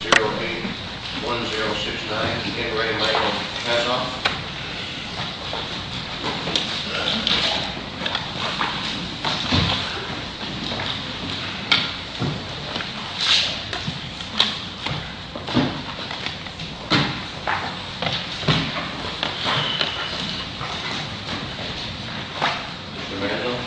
P.O.: Zero-E1069, Henry Lane, add on. Mr. Manuel.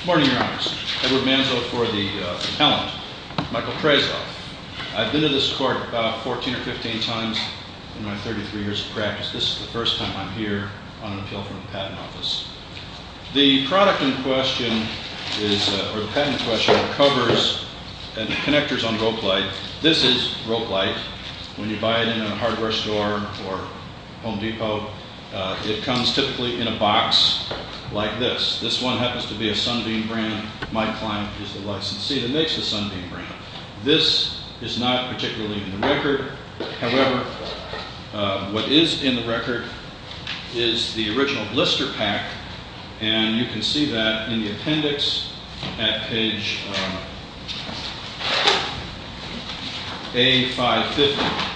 Good morning, Your Honor. Edward Manzo for the appellant, Michael Prezov. I've been to this court about 14 or 15 times in my 33 years of practice. This is the first time I'm here on an appeal from the Patent Office. The product in question, or the patent in question, covers connectors on rope light. This is rope light. When you buy it in a hardware store or Home Depot, it comes typically in a box like this. This one happens to be a Sunbeam brand. Mike Klein is the licensee that makes the Sunbeam brand. However, what is in the record is the original blister pack, and you can see that in the appendix at page A550.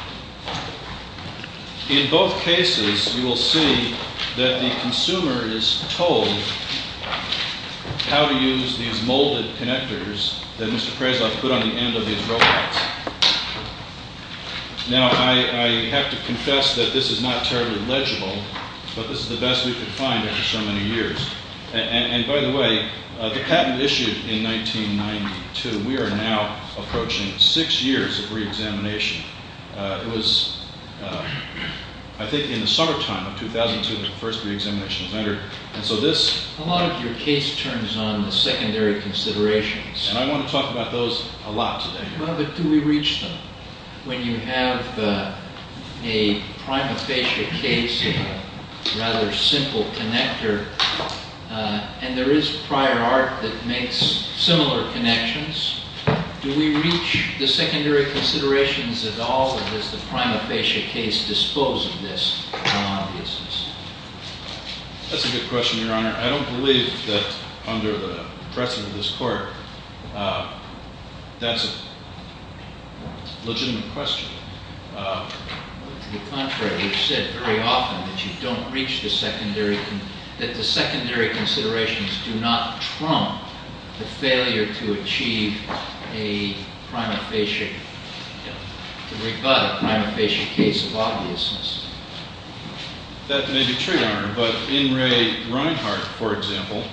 In both cases, you will see that the consumer is told how to use these molded connectors that Mr. Prezov put on the end of these rope lights. Now, I have to confess that this is not terribly legible, but this is the best we could find after so many years. By the way, the patent issued in 1992. We are now approaching six years of reexamination. It was, I think, in the summertime of 2002 that the first reexamination was entered. A lot of your case turns on the secondary considerations. I want to talk about those a lot today. Well, but do we reach them? When you have a prima facie case of a rather simple connector, and there is prior art that makes similar connections, do we reach the secondary considerations at all, or does the prima facie case dispose of this non-obviousness? That's a good question, Your Honor. I don't believe that under the precedent of this court, that's a legitimate question. To the contrary, you've said very often that you don't reach the secondary, that the secondary considerations do not trump the failure to achieve a prima facie, to rebut a prima facie case of obviousness. That may be true, Your Honor, but N. Ray Reinhart, for example,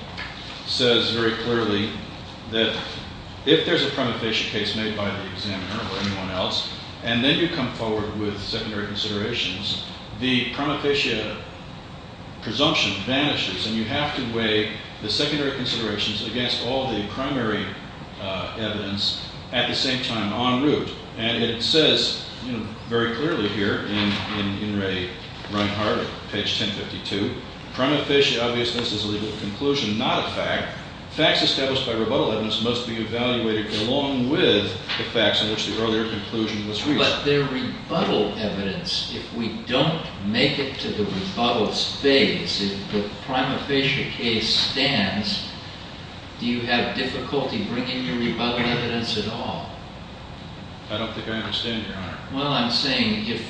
says very clearly that if there's a prima facie case made by the examiner or anyone else, and then you come forward with secondary considerations, the prima facie presumption vanishes, and you have to weigh the secondary considerations against all the primary evidence at the same time en route. And it says very clearly here in N. Ray Reinhart, page 1052, prima facie obviousness is a legal conclusion, not a fact. Facts established by rebuttal evidence must be evaluated along with the facts in which the earlier conclusion was reached. But their rebuttal evidence, if we don't make it to the rebuttals phase, if the prima facie case stands, do you have difficulty bringing your rebuttal evidence at all? I don't think I understand, Your Honor. Well, I'm saying if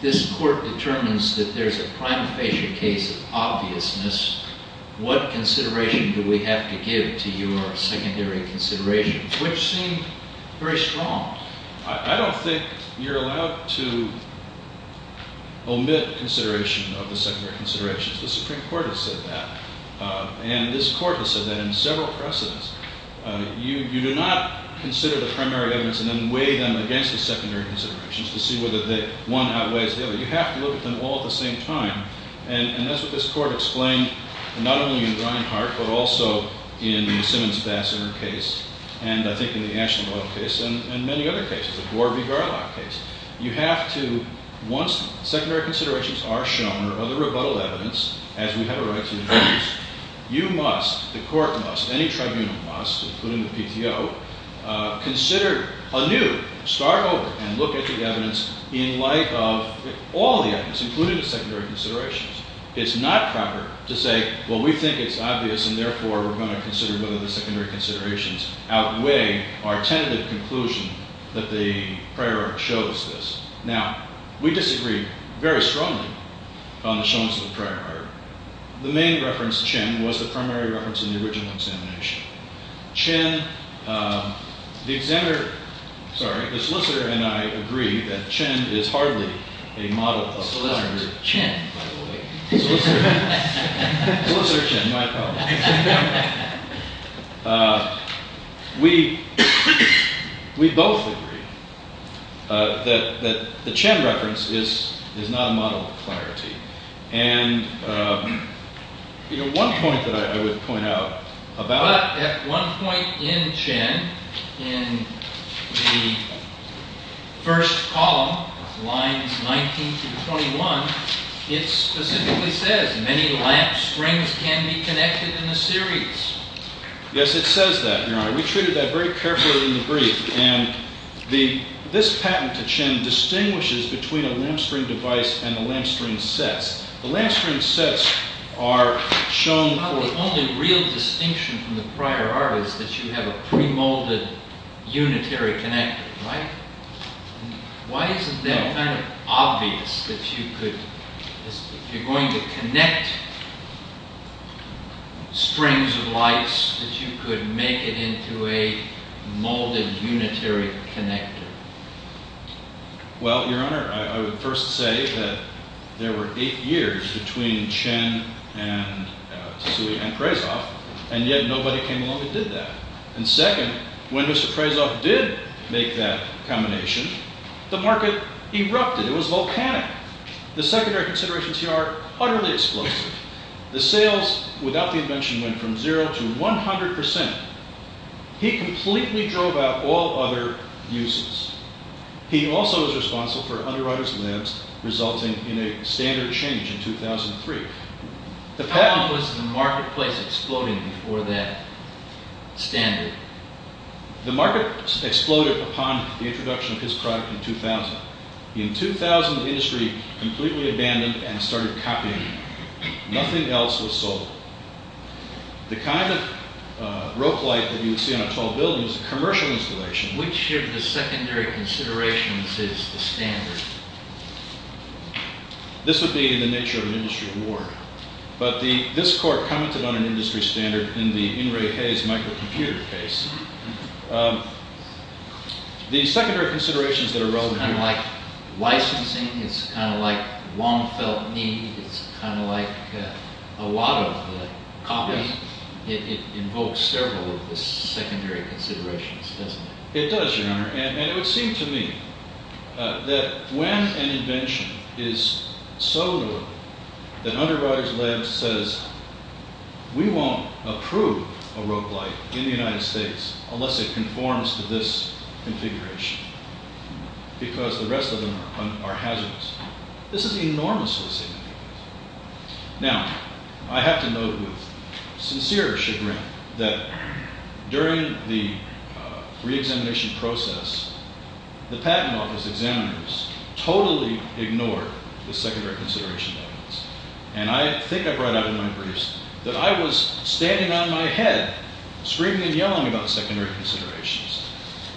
this court determines that there's a prima facie case of obviousness, what consideration do we have to give to your secondary considerations, which seem very strong? I don't think you're allowed to omit consideration of the secondary considerations. The Supreme Court has said that. And this court has said that in several precedents. You do not consider the primary evidence and then weigh them against the secondary considerations to see whether one outweighs the other. You have to look at them all at the same time. And that's what this court explained, not only in Reinhart, but also in the Simmons-Basseter case, and I think in the Ashenberg case, and many other cases, the Gore v. Garlock case. You have to, once secondary considerations are shown, or the rebuttal evidence, as we have a right to introduce, you must, the court must, any tribunal must, including the PTO, consider anew, start over, and look at the evidence in light of all the evidence, including the secondary considerations. It's not proper to say, well, we think it's obvious, and therefore, we're going to consider whether the secondary considerations outweigh our tentative conclusion that the prior art shows this. Now, we disagree very strongly on the showings of the prior art. The main reference, Chin, was the primary reference in the original examination. Chin, the solicitor and I agree that Chin is hardly a model of clarity. Solicitor Chin, by the way. Solicitor Chin, my apologies. We both agree that the Chin reference is not a model of clarity. And one point that I would point out about But at one point in Chin, in the first column, lines 19 through 21, it specifically says many lamp springs can be connected in a series. Yes, it says that, Your Honor. We treated that very carefully in the brief. This patent to Chin distinguishes between a lamp spring device and a lamp spring set. The lamp spring sets are shown for The only real distinction from the prior art is that you have a pre-molded unitary connector, right? Why is it that kind of obvious that you could If you're going to connect springs of lights, that you could make it into a molded unitary connector? Well, Your Honor, I would first say that there were eight years between Chin and Tassoui and Prezov, and yet nobody came along and did that. And second, when Mr. Prezov did make that combination, the market erupted. It was volcanic. The secondary considerations here are utterly explosive. The sales without the invention went from zero to 100 percent. He completely drove out all other uses. He also was responsible for underwriter's lamps resulting in a standard change in 2003. How long was the marketplace exploding before that standard? The market exploded upon the introduction of his product in 2000. In 2000, the industry completely abandoned and started copying. Nothing else was sold. The kind of rope light that you would see on a tall building is a commercial installation. Which of the secondary considerations is the standard? This would be in the nature of an industry award. But this court commented on an industry standard in the In re Hayes microcomputer case. The secondary considerations that are relevant here It's kind of like licensing. It's kind of like Wong felt need. It's kind of like a lot of the copying. It invokes several of the secondary considerations, doesn't it? It does, Your Honor. And it would seem to me that when an invention is so low that underwriter's lamp says We won't approve a rope light in the United States unless it conforms to this configuration. Because the rest of them are hazardous. This is enormously significant. Now, I have to note with sincere chagrin that during the reexamination process, the patent office examiners totally ignored the secondary consideration documents. And I think I brought out in my briefs that I was standing on my head, screaming and yelling about the secondary considerations.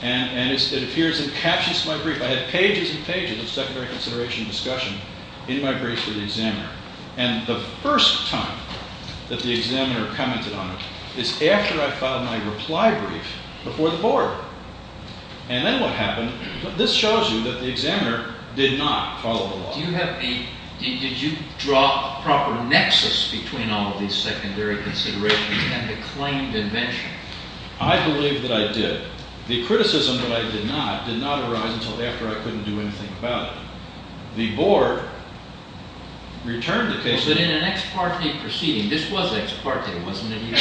And it appears in captions of my brief, I had pages and pages of secondary consideration discussion in my brief for the examiner. And the first time that the examiner commented on it is after I filed my reply brief before the board. And then what happened, this shows you that the examiner did not follow the law. Did you draw a proper nexus between all of these secondary considerations and the claimed invention? I believe that I did. The criticism that I did not, did not arise until after I couldn't do anything about it. The board returned the case. But in an ex parte proceeding, this was ex parte, wasn't it?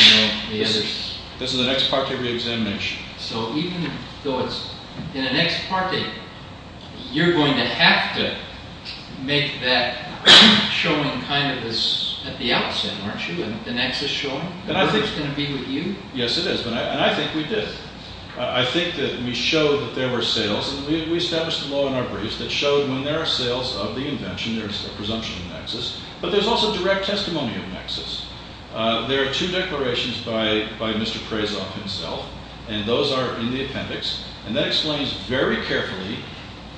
This is an ex parte reexamination. So even though it's in an ex parte, you're going to have to make that showing kind of at the outset, aren't you? The nexus showing? Yes, it is. And I think we did. I think that we showed that there were sales. We established the law in our briefs that showed when there are sales of the invention, there's a presumption of nexus. But there's also direct testimony of nexus. There are two declarations by Mr. Prezov himself. And those are in the appendix. And that explains very carefully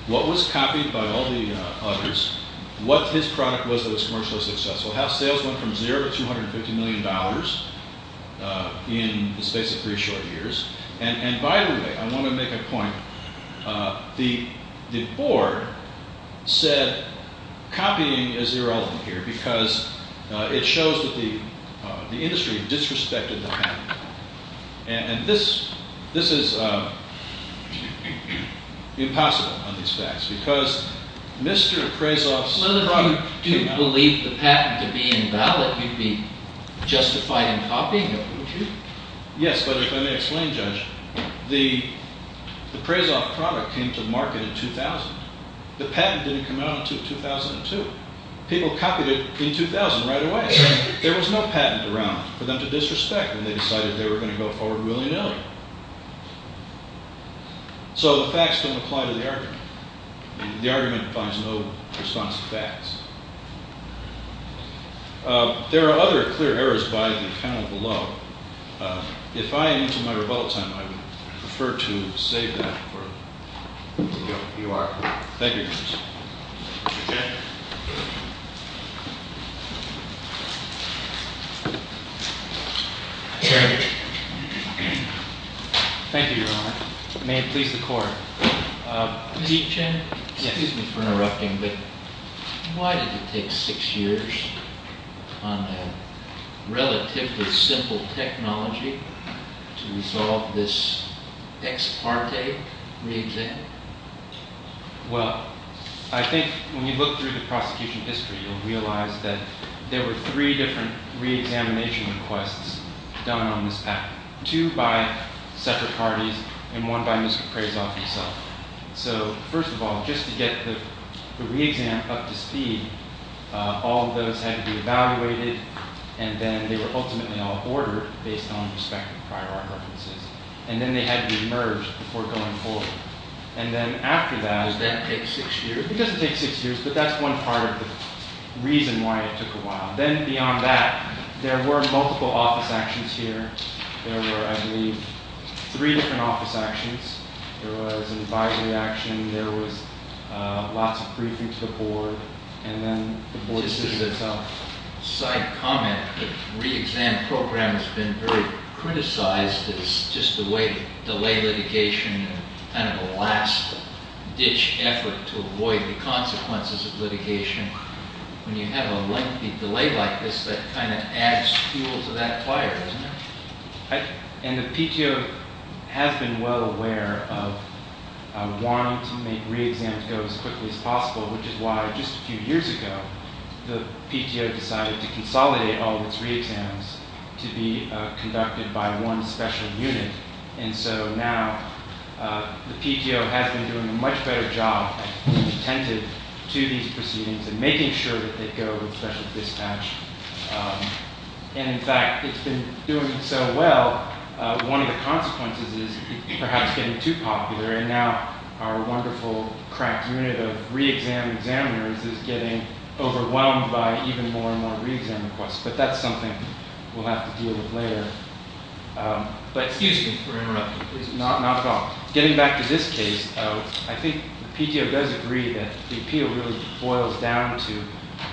what was copied by all the others, what his product was that was commercially successful, how sales went from zero to $250 million in the space of three short years. And by the way, I want to make a point. The board said copying is irrelevant here because it shows that the industry disrespected the patent. And this is impossible on these facts because Mr. Prezov's product Well, if you do believe the patent to be invalid, you'd be justified in copying it, wouldn't you? Yes, but if I may explain, Judge, the Prezov product came to market in 2000. The patent didn't come out until 2002. People copied it in 2000 right away. There was no patent around for them to disrespect when they decided they were going to go forward willy-nilly. So the facts don't apply to the argument. The argument finds no response to facts. There are other clear errors by the panel below. If I am into my rebuttal time, I would prefer to save that for later. You are. Thank you, Your Honor. Thank you, Your Honor. May it please the Court. Excuse me for interrupting, but why did it take six years on a relatively simple technology to resolve this ex parte reexamination? Well, I think when you look through the prosecution history, you'll realize that there were three different reexamination requests done on this patent. Two by separate parties and one by Mr. Prezov himself. So, first of all, just to get the reexam up to speed, all of those had to be evaluated and then they were ultimately all ordered based on respective prior art references. And then they had to be merged before going forward. And then after that... Does that take six years? It doesn't take six years, but that's one part of the reason why it took a while. Then beyond that, there were multiple office actions here There were, I believe, three different office actions. There was an advisory action, there was lots of briefing to the board, and then the police did it themselves. Just as a side comment, the reexam program has been very criticized as just a way to delay litigation and kind of a last ditch effort to avoid the consequences of litigation. When you have a lengthy delay like this, that kind of adds fuel to that fire, doesn't it? And the PTO has been well aware of wanting to make reexams go as quickly as possible, which is why just a few years ago, the PTO decided to consolidate all of its reexams to be conducted by one special unit. And so now, the PTO has been doing a much better job of being attentive to these proceedings and making sure that they go with special dispatch. And in fact, it's been doing so well, one of the consequences is perhaps getting too popular, and now our wonderful cracked unit of reexam examiners is getting overwhelmed by even more and more reexam requests. But that's something we'll have to deal with later. But excuse me for interrupting. Not at all. Getting back to this case, I think the PTO does agree that the appeal really boils down to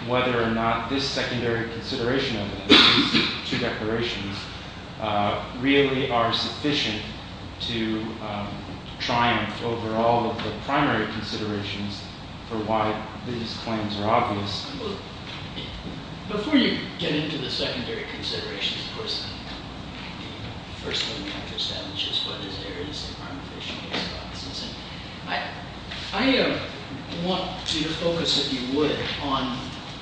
whether or not this secondary consideration of these two declarations really are sufficient to triumph over all of the primary considerations for why these claims are obvious. Before you get into the secondary considerations, of course, the first thing we have to establish is whether there is a crime-of-patient response. I want you to focus, if you would, on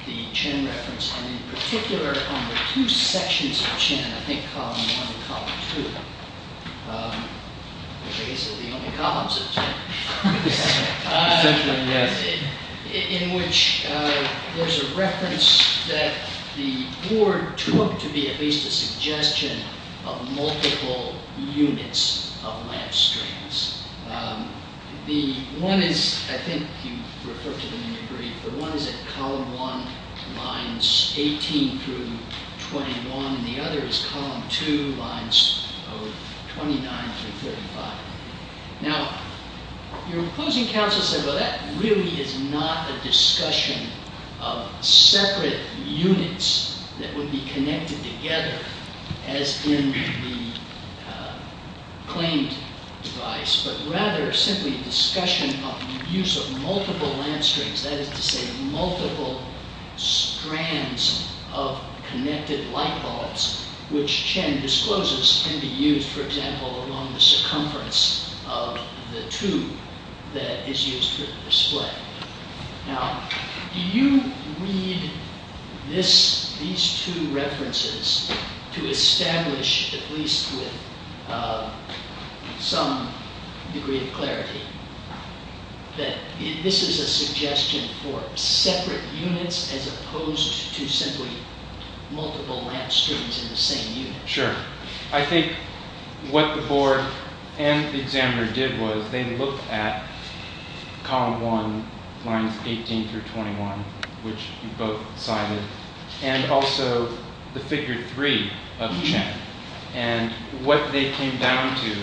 the Chinn reference, and in particular on the two sections of Chinn, I think column one and column two, which I guess are the only columns of Chinn. Essentially, yes. In which there's a reference that the board took to be at least a suggestion of multiple units of lamp strings. The one is, I think you referred to them in your brief, the one is at column one, lines 18 through 21, and the other is column two, lines 29 through 35. Now, your opposing counsel said, well, that really is not a discussion of separate units that would be connected together as in the claimed device, but rather simply a discussion of the use of multiple lamp strings, that is to say multiple strands of connected light bulbs, which Chinn discloses can be used, for example, along the circumference of the tube that is used for display. Now, do you read these two references to establish, at least with some degree of clarity, that this is a suggestion for separate units as opposed to simply multiple lamp strings in the same unit? Sure. I think what the board and the examiner did was they looked at column one, lines 18 through 21, which you both cited, and also the figure three of Chinn, and what they came down to,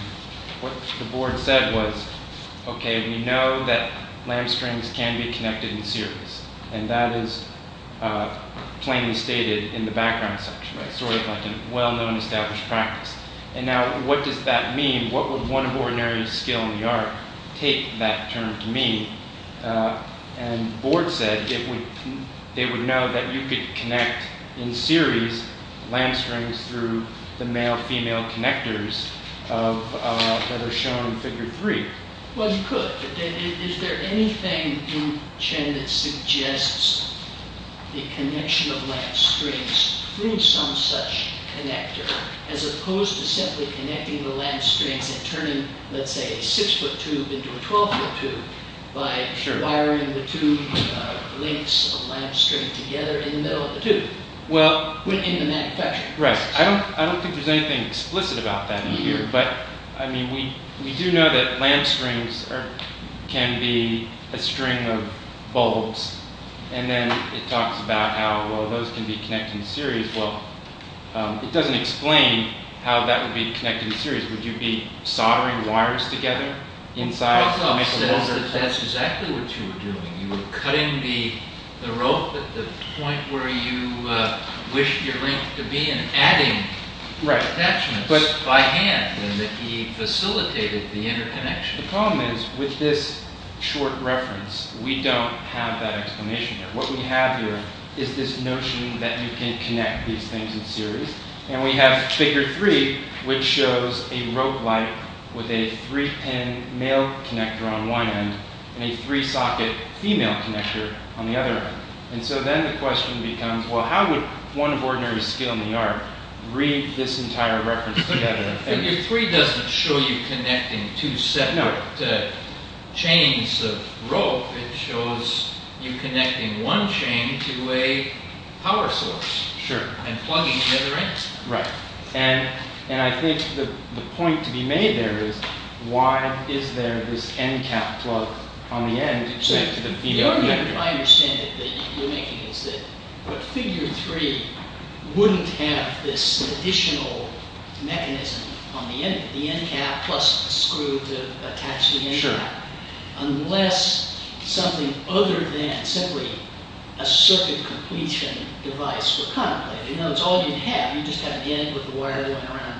what the board said was, okay, we know that lamp strings can be connected in series, and that is plainly stated in the background section, sort of like a well-known established practice. And now what does that mean? What would one of ordinary skill in the art take that term to mean? And the board said it would know that you could connect in series lamp strings through the male-female connectors that are shown in figure three. Well, you could, but is there anything in Chinn that suggests the connection of lamp strings through some such connector as opposed to simply connecting the lamp strings and turning, let's say, a six-foot tube into a 12-foot tube by wiring the two lengths of lamp string together in the middle of the tube? Well, I don't think there's anything explicit about that in here, but we do know that lamp strings can be a string of bulbs, and then it talks about how those can be connected in series. Well, it doesn't explain how that would be connected in series. Would you be soldering wires together inside to make a bulb? Prokof says that that's exactly what you were doing. You were cutting the rope at the point where you wished your link to be and adding attachments by hand, and that he facilitated the interconnection. The problem is, with this short reference, we don't have that explanation. What we have here is this notion that you can connect these things in series, and we have Figure 3, which shows a rope light with a three-pin male connector on one end and a three-socket female connector on the other. And so then the question becomes, well, how would one of ordinary skill in the art read this entire reference together? Figure 3 doesn't show you connecting two separate chains of rope. It shows you connecting one chain to a power source and plugging the other end. Right. And I think the point to be made there is, why is there this end cap plug on the end to connect to the VR connector? What I understand that you're making is that Figure 3 wouldn't have this additional mechanism on the end, the end cap plus a screw to attach the end cap, unless something other than simply a circuit completion device were contemplated. You know, it's all you'd have. You'd just have the end with the wire going around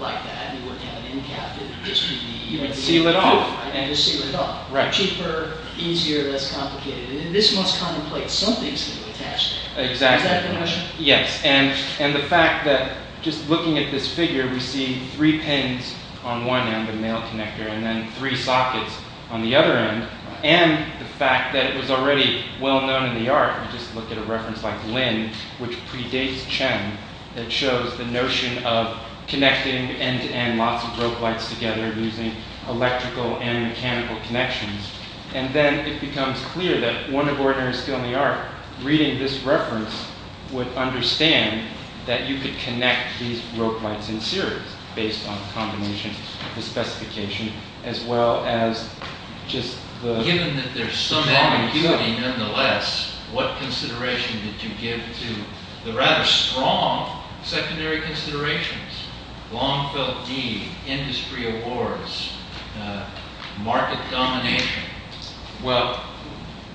like that, and you wouldn't have an end cap. You'd just seal it off. And just seal it off. Cheaper, easier, less complicated. And this must contemplate some things to attach to it. Exactly. Is that the question? Yes. And the fact that, just looking at this figure, we see three pins on one end, a male connector, and then three sockets on the other end, and the fact that it was already well known in the art, just look at a reference like Lin, which predates Chen, that shows the notion of connecting end-to-end lots of rope lights together using electrical and mechanical connections. And then it becomes clear that one of ordinary skill in the art, reading this reference, would understand that you could connect these rope lights in series, based on a combination of the specification, as well as just the... Given that there's some ambiguity, nonetheless, what consideration did you give to the rather strong secondary considerations? Long-felt need, industry awards, market domination. Well,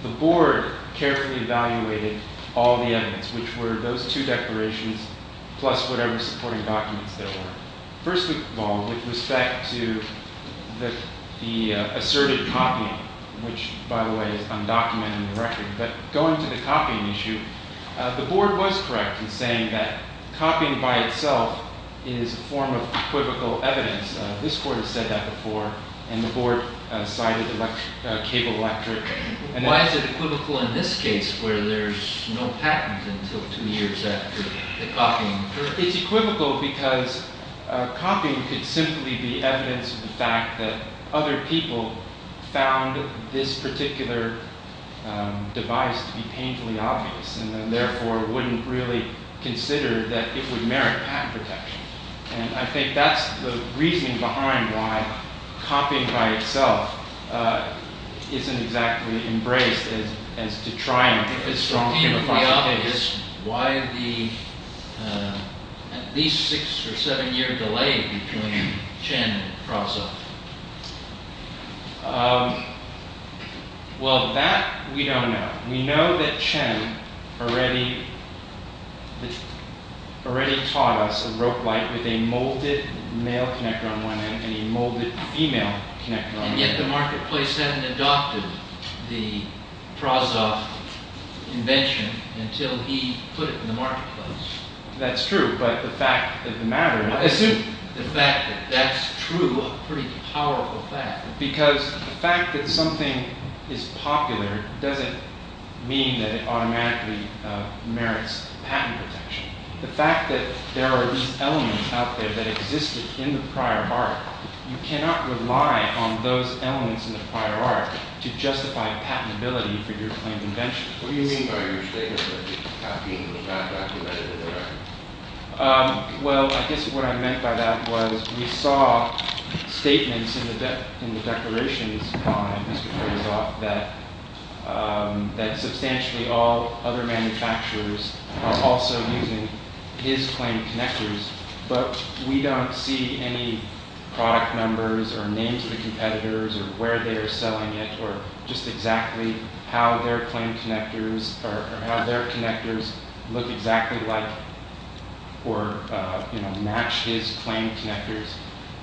the board carefully evaluated all the evidence, which were those two declarations, plus whatever supporting documents there were. First of all, with respect to the asserted copying, which, by the way, is undocumented in the record, but going to the copying issue, the board was correct in saying that copying by itself is a form of equivocal evidence. This court has said that before, and the board cited Cable Electric. Why is it equivocal in this case, where there's no patent until two years after the copying? It's equivocal because copying could simply be evidence of the fact that other people found this particular device to be painfully obvious, and therefore wouldn't really consider that it would merit patent protection. And I think that's the reasoning behind why copying by itself isn't exactly embraced as to try and... If it's painfully obvious, why the at least six or seven-year delay between Chen and Crosso? Well, that we don't know. We know that Chen already taught us a rope light with a molded male connector on one end and a molded female connector on the other. And yet the marketplace hadn't adopted the Prozov invention until he put it in the marketplace. That's true, but the fact that the matter... I assume the fact that that's true, a pretty powerful fact. Because the fact that something is popular doesn't mean that it automatically merits patent protection. The fact that there are these elements out there that existed in the prior art, you cannot rely on those elements in the prior art to justify patentability for your claimed invention. What do you mean by your statement that copying was not documented in the prior art? Well, I guess what I meant by that was we saw statements in the declarations on Mr. Prozov that substantially all other manufacturers was also using his claimed connectors. But we don't see any product numbers or names of the competitors or where they are selling it or just exactly how their claimed connectors or how their connectors look exactly like or match his claimed connectors.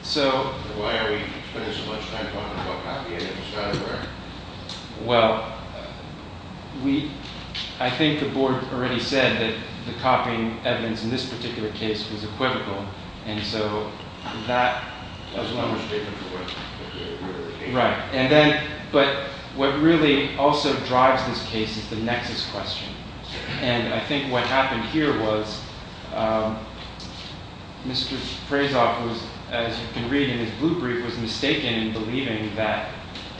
So... Why are we spending so much time talking about copying instead of wearing? Well, I think the board already said that the copying evidence in this particular case was equivocal. And so that... Right. But what really also drives this case is the nexus question. And I think what happened here was Mr. Prozov was, as you can read in his blue brief, was mistaken in believing that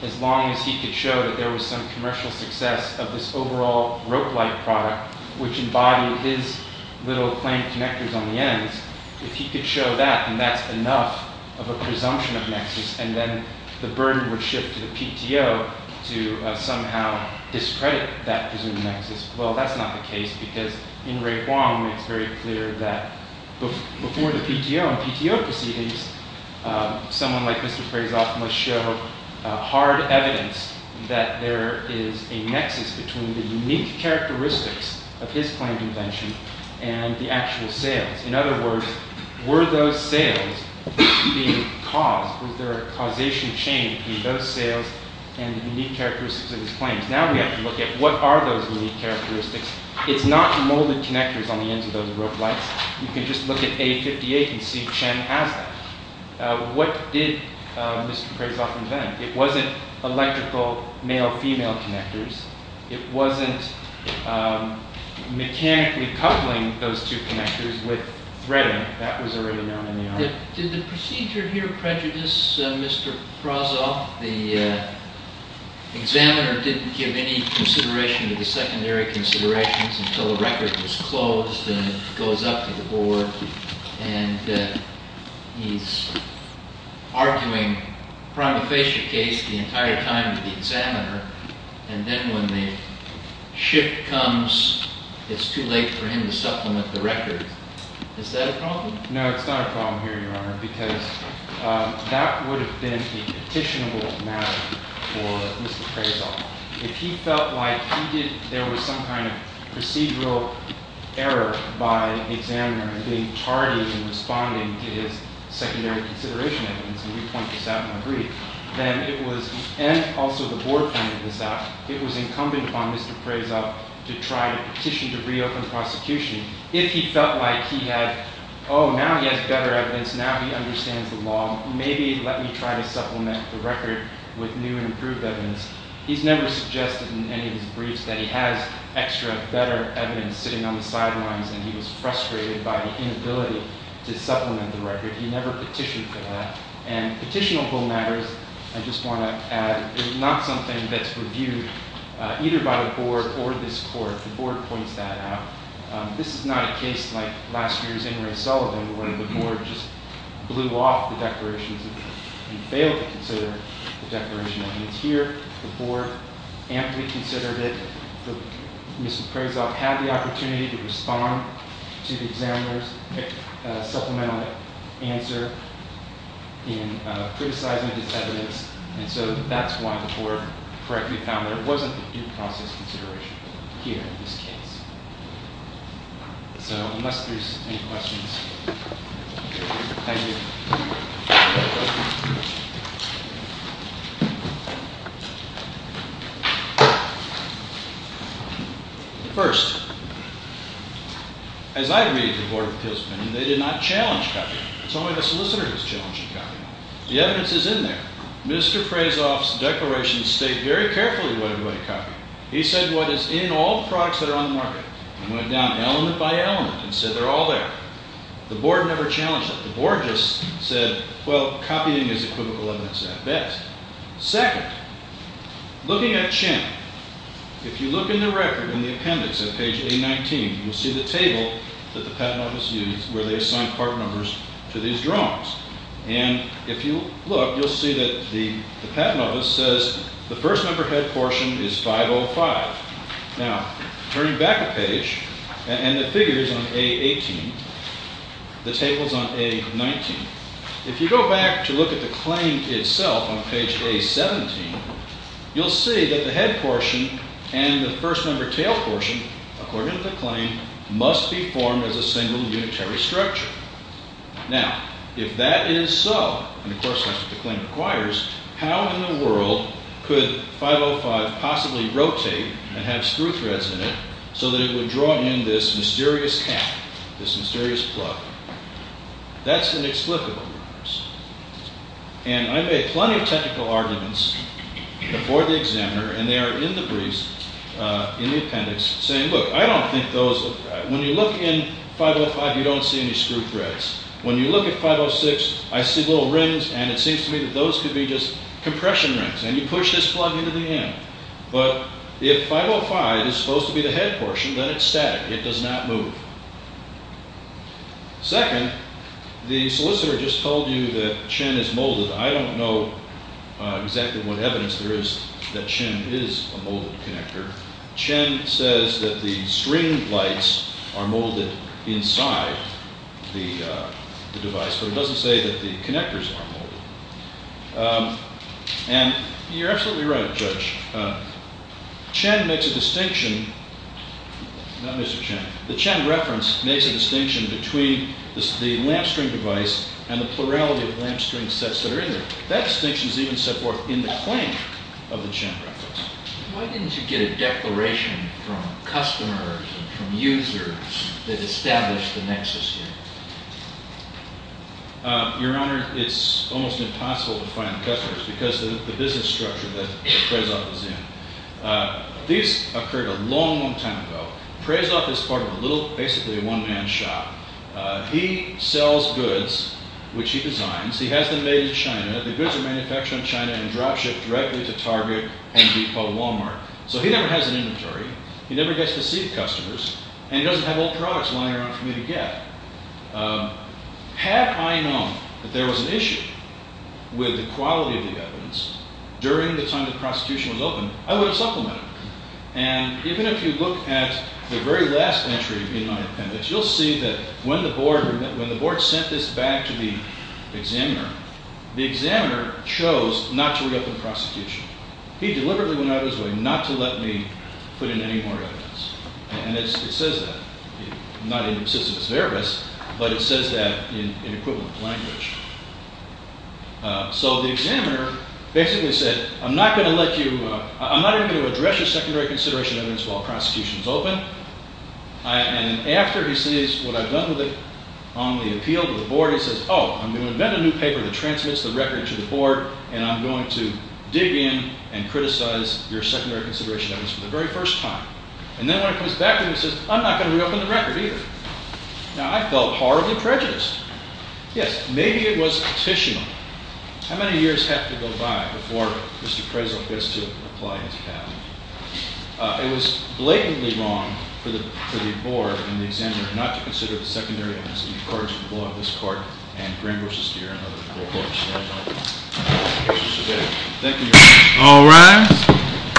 as long as he could show that there was some commercial success of this overall rope-like product, which embodied his little claimed connectors on the ends, if he could show that, then that's enough of a presumption of nexus. And then the burden would shift to the PTO to somehow discredit that presumed nexus. Well, that's not the case, because in Ray Huang, it's very clear that before the PTO and PTO proceedings, someone like Mr. Prozov must show hard evidence that there is a nexus between the unique characteristics of his claimed invention and the actual sales. In other words, were those sales being caused? Was there a causation chain between those sales and the unique characteristics of his claims? Now we have to look at what are those unique characteristics. It's not molded connectors on the ends of those rope-likes. You can just look at A58 and see Chen has them. What did Mr. Prozov invent? It wasn't electrical male-female connectors. It wasn't mechanically coupling those two connectors with threading. That was already known in the art. Did the procedure here prejudice Mr. Prozov? The examiner didn't give any consideration to the secondary considerations until the record was closed and it goes up to the board. And he's arguing prima facie case the entire time with the examiner. And then when the shift comes, it's too late for him to supplement the record. Is that a problem? No, it's not a problem here, Your Honor, because that would have been a petitionable matter for Mr. Prozov. If he felt like there was some kind of procedural error by the examiner in being tardy in responding to his secondary consideration evidence, and also the board pointed this out, it was incumbent upon Mr. Prozov to try to petition to reopen prosecution. If he felt like he had, oh, now he has better evidence, now he understands the law, maybe let me try to supplement the record with new and improved evidence. He's never suggested in any of his briefs that he has extra, better evidence sitting on the sidelines and he was frustrated by the inability to supplement the record. He never petitioned for that. And petitionable matters, I just want to add, is not something that's reviewed either by the board or this court. The board points that out. This is not a case like last year's in Ray Sullivan, where the board just blew off the declarations and failed to consider the declaration. And it's here, the board amply considered it. Mr. Prozov had the opportunity to respond to the examiner's supplemental answer in criticizing his evidence, and so that's why the board correctly found there wasn't due process consideration here in this case. So unless there's any questions, thank you. First, as I read the Board of Appeals opinion, they did not challenge copying. It's only the solicitor who's challenging copying. The evidence is in there. Mr. Prozov's declarations state very carefully what he wanted to copy. He said what is in all products that are on the market. He went down element by element and said they're all there. The board never challenged that. The board just said, well, copying is equivocal evidence at best. Second, looking at Chen, if you look in the record in the appendix at page A19, you'll see the table that the Patent Office used where they assigned part numbers to these drawings. And if you look, you'll see that the Patent Office says the first numberhead portion is 505. Now, turning back a page, and the figure is on A18, the table's on A19. If you go back to look at the claim itself on page A17, you'll see that the head portion and the first number tail portion, according to the claim, must be formed as a single unitary structure. Now, if that is so, and of course that's what the claim requires, how in the world could 505 possibly rotate and have screw threads in it so that it would draw in this mysterious cap, this mysterious plug? That's inexplicable. And I made plenty of technical arguments before the examiner, and they are in the briefs, in the appendix, saying, look, I don't think those look right. When you look in 505, you don't see any screw threads. When you look at 506, I see little rings, and it seems to me that those could be just compression rings. And you push this plug into the end. But if 505 is supposed to be the head portion, then it's static. It does not move. Second, the solicitor just told you that Chen is molded. I don't know exactly what evidence there is that Chen is a molded connector. Chen says that the string lights are molded inside the device, but it doesn't say that the connectors are molded. And you're absolutely right, Judge. Chen makes a distinction. Not Mr. Chen. The Chen reference makes a distinction between the lampstring device and the plurality of lampstring sets that are in there. That distinction is even set forth in the claim of the Chen reference. Why didn't you get a declaration from customers, from users, that established the nexus here? Your Honor, it's almost impossible to find customers because of the business structure that Prezov is in. This occurred a long, long time ago. Prezov is part of a little, basically a one-man shop. He sells goods, which he designs. He has them made in China. The goods are manufactured in China and drop shipped directly to Target and decode Walmart. So he never has an inventory. He never gets to see the customers. And he doesn't have old products lying around for me to get. Had I known that there was an issue with the quality of the evidence during the time the prosecution was open, I would have supplemented it. And even if you look at the very last entry in my appendix, you'll see that when the board sent this back to the examiner, the examiner chose not to reopen the prosecution. He deliberately went out of his way not to let me put in any more evidence. And it says that. Not in Sisyphus Veribus, but it says that in equivalent language. So the examiner basically said, I'm not even going to address your secondary consideration evidence while the prosecution is open. And after he sees what I've done with it on the appeal to the board, he says, oh, I'm going to invent a new paper that transmits the record to the board, and I'm going to dig in and criticize your secondary consideration evidence for the very first time. And then when it comes back to him, he says, I'm not going to reopen the record either. Now, I felt horribly prejudiced. Yes, maybe it was petitional. How many years have to go by before Mr. Prezel gets to apply his patent? It was blatantly wrong for the board and the examiner not to consider the secondary evidence in accordance with the law of this court and Graham v. Deere and other law courts. Thank you, Your Honor. All rise.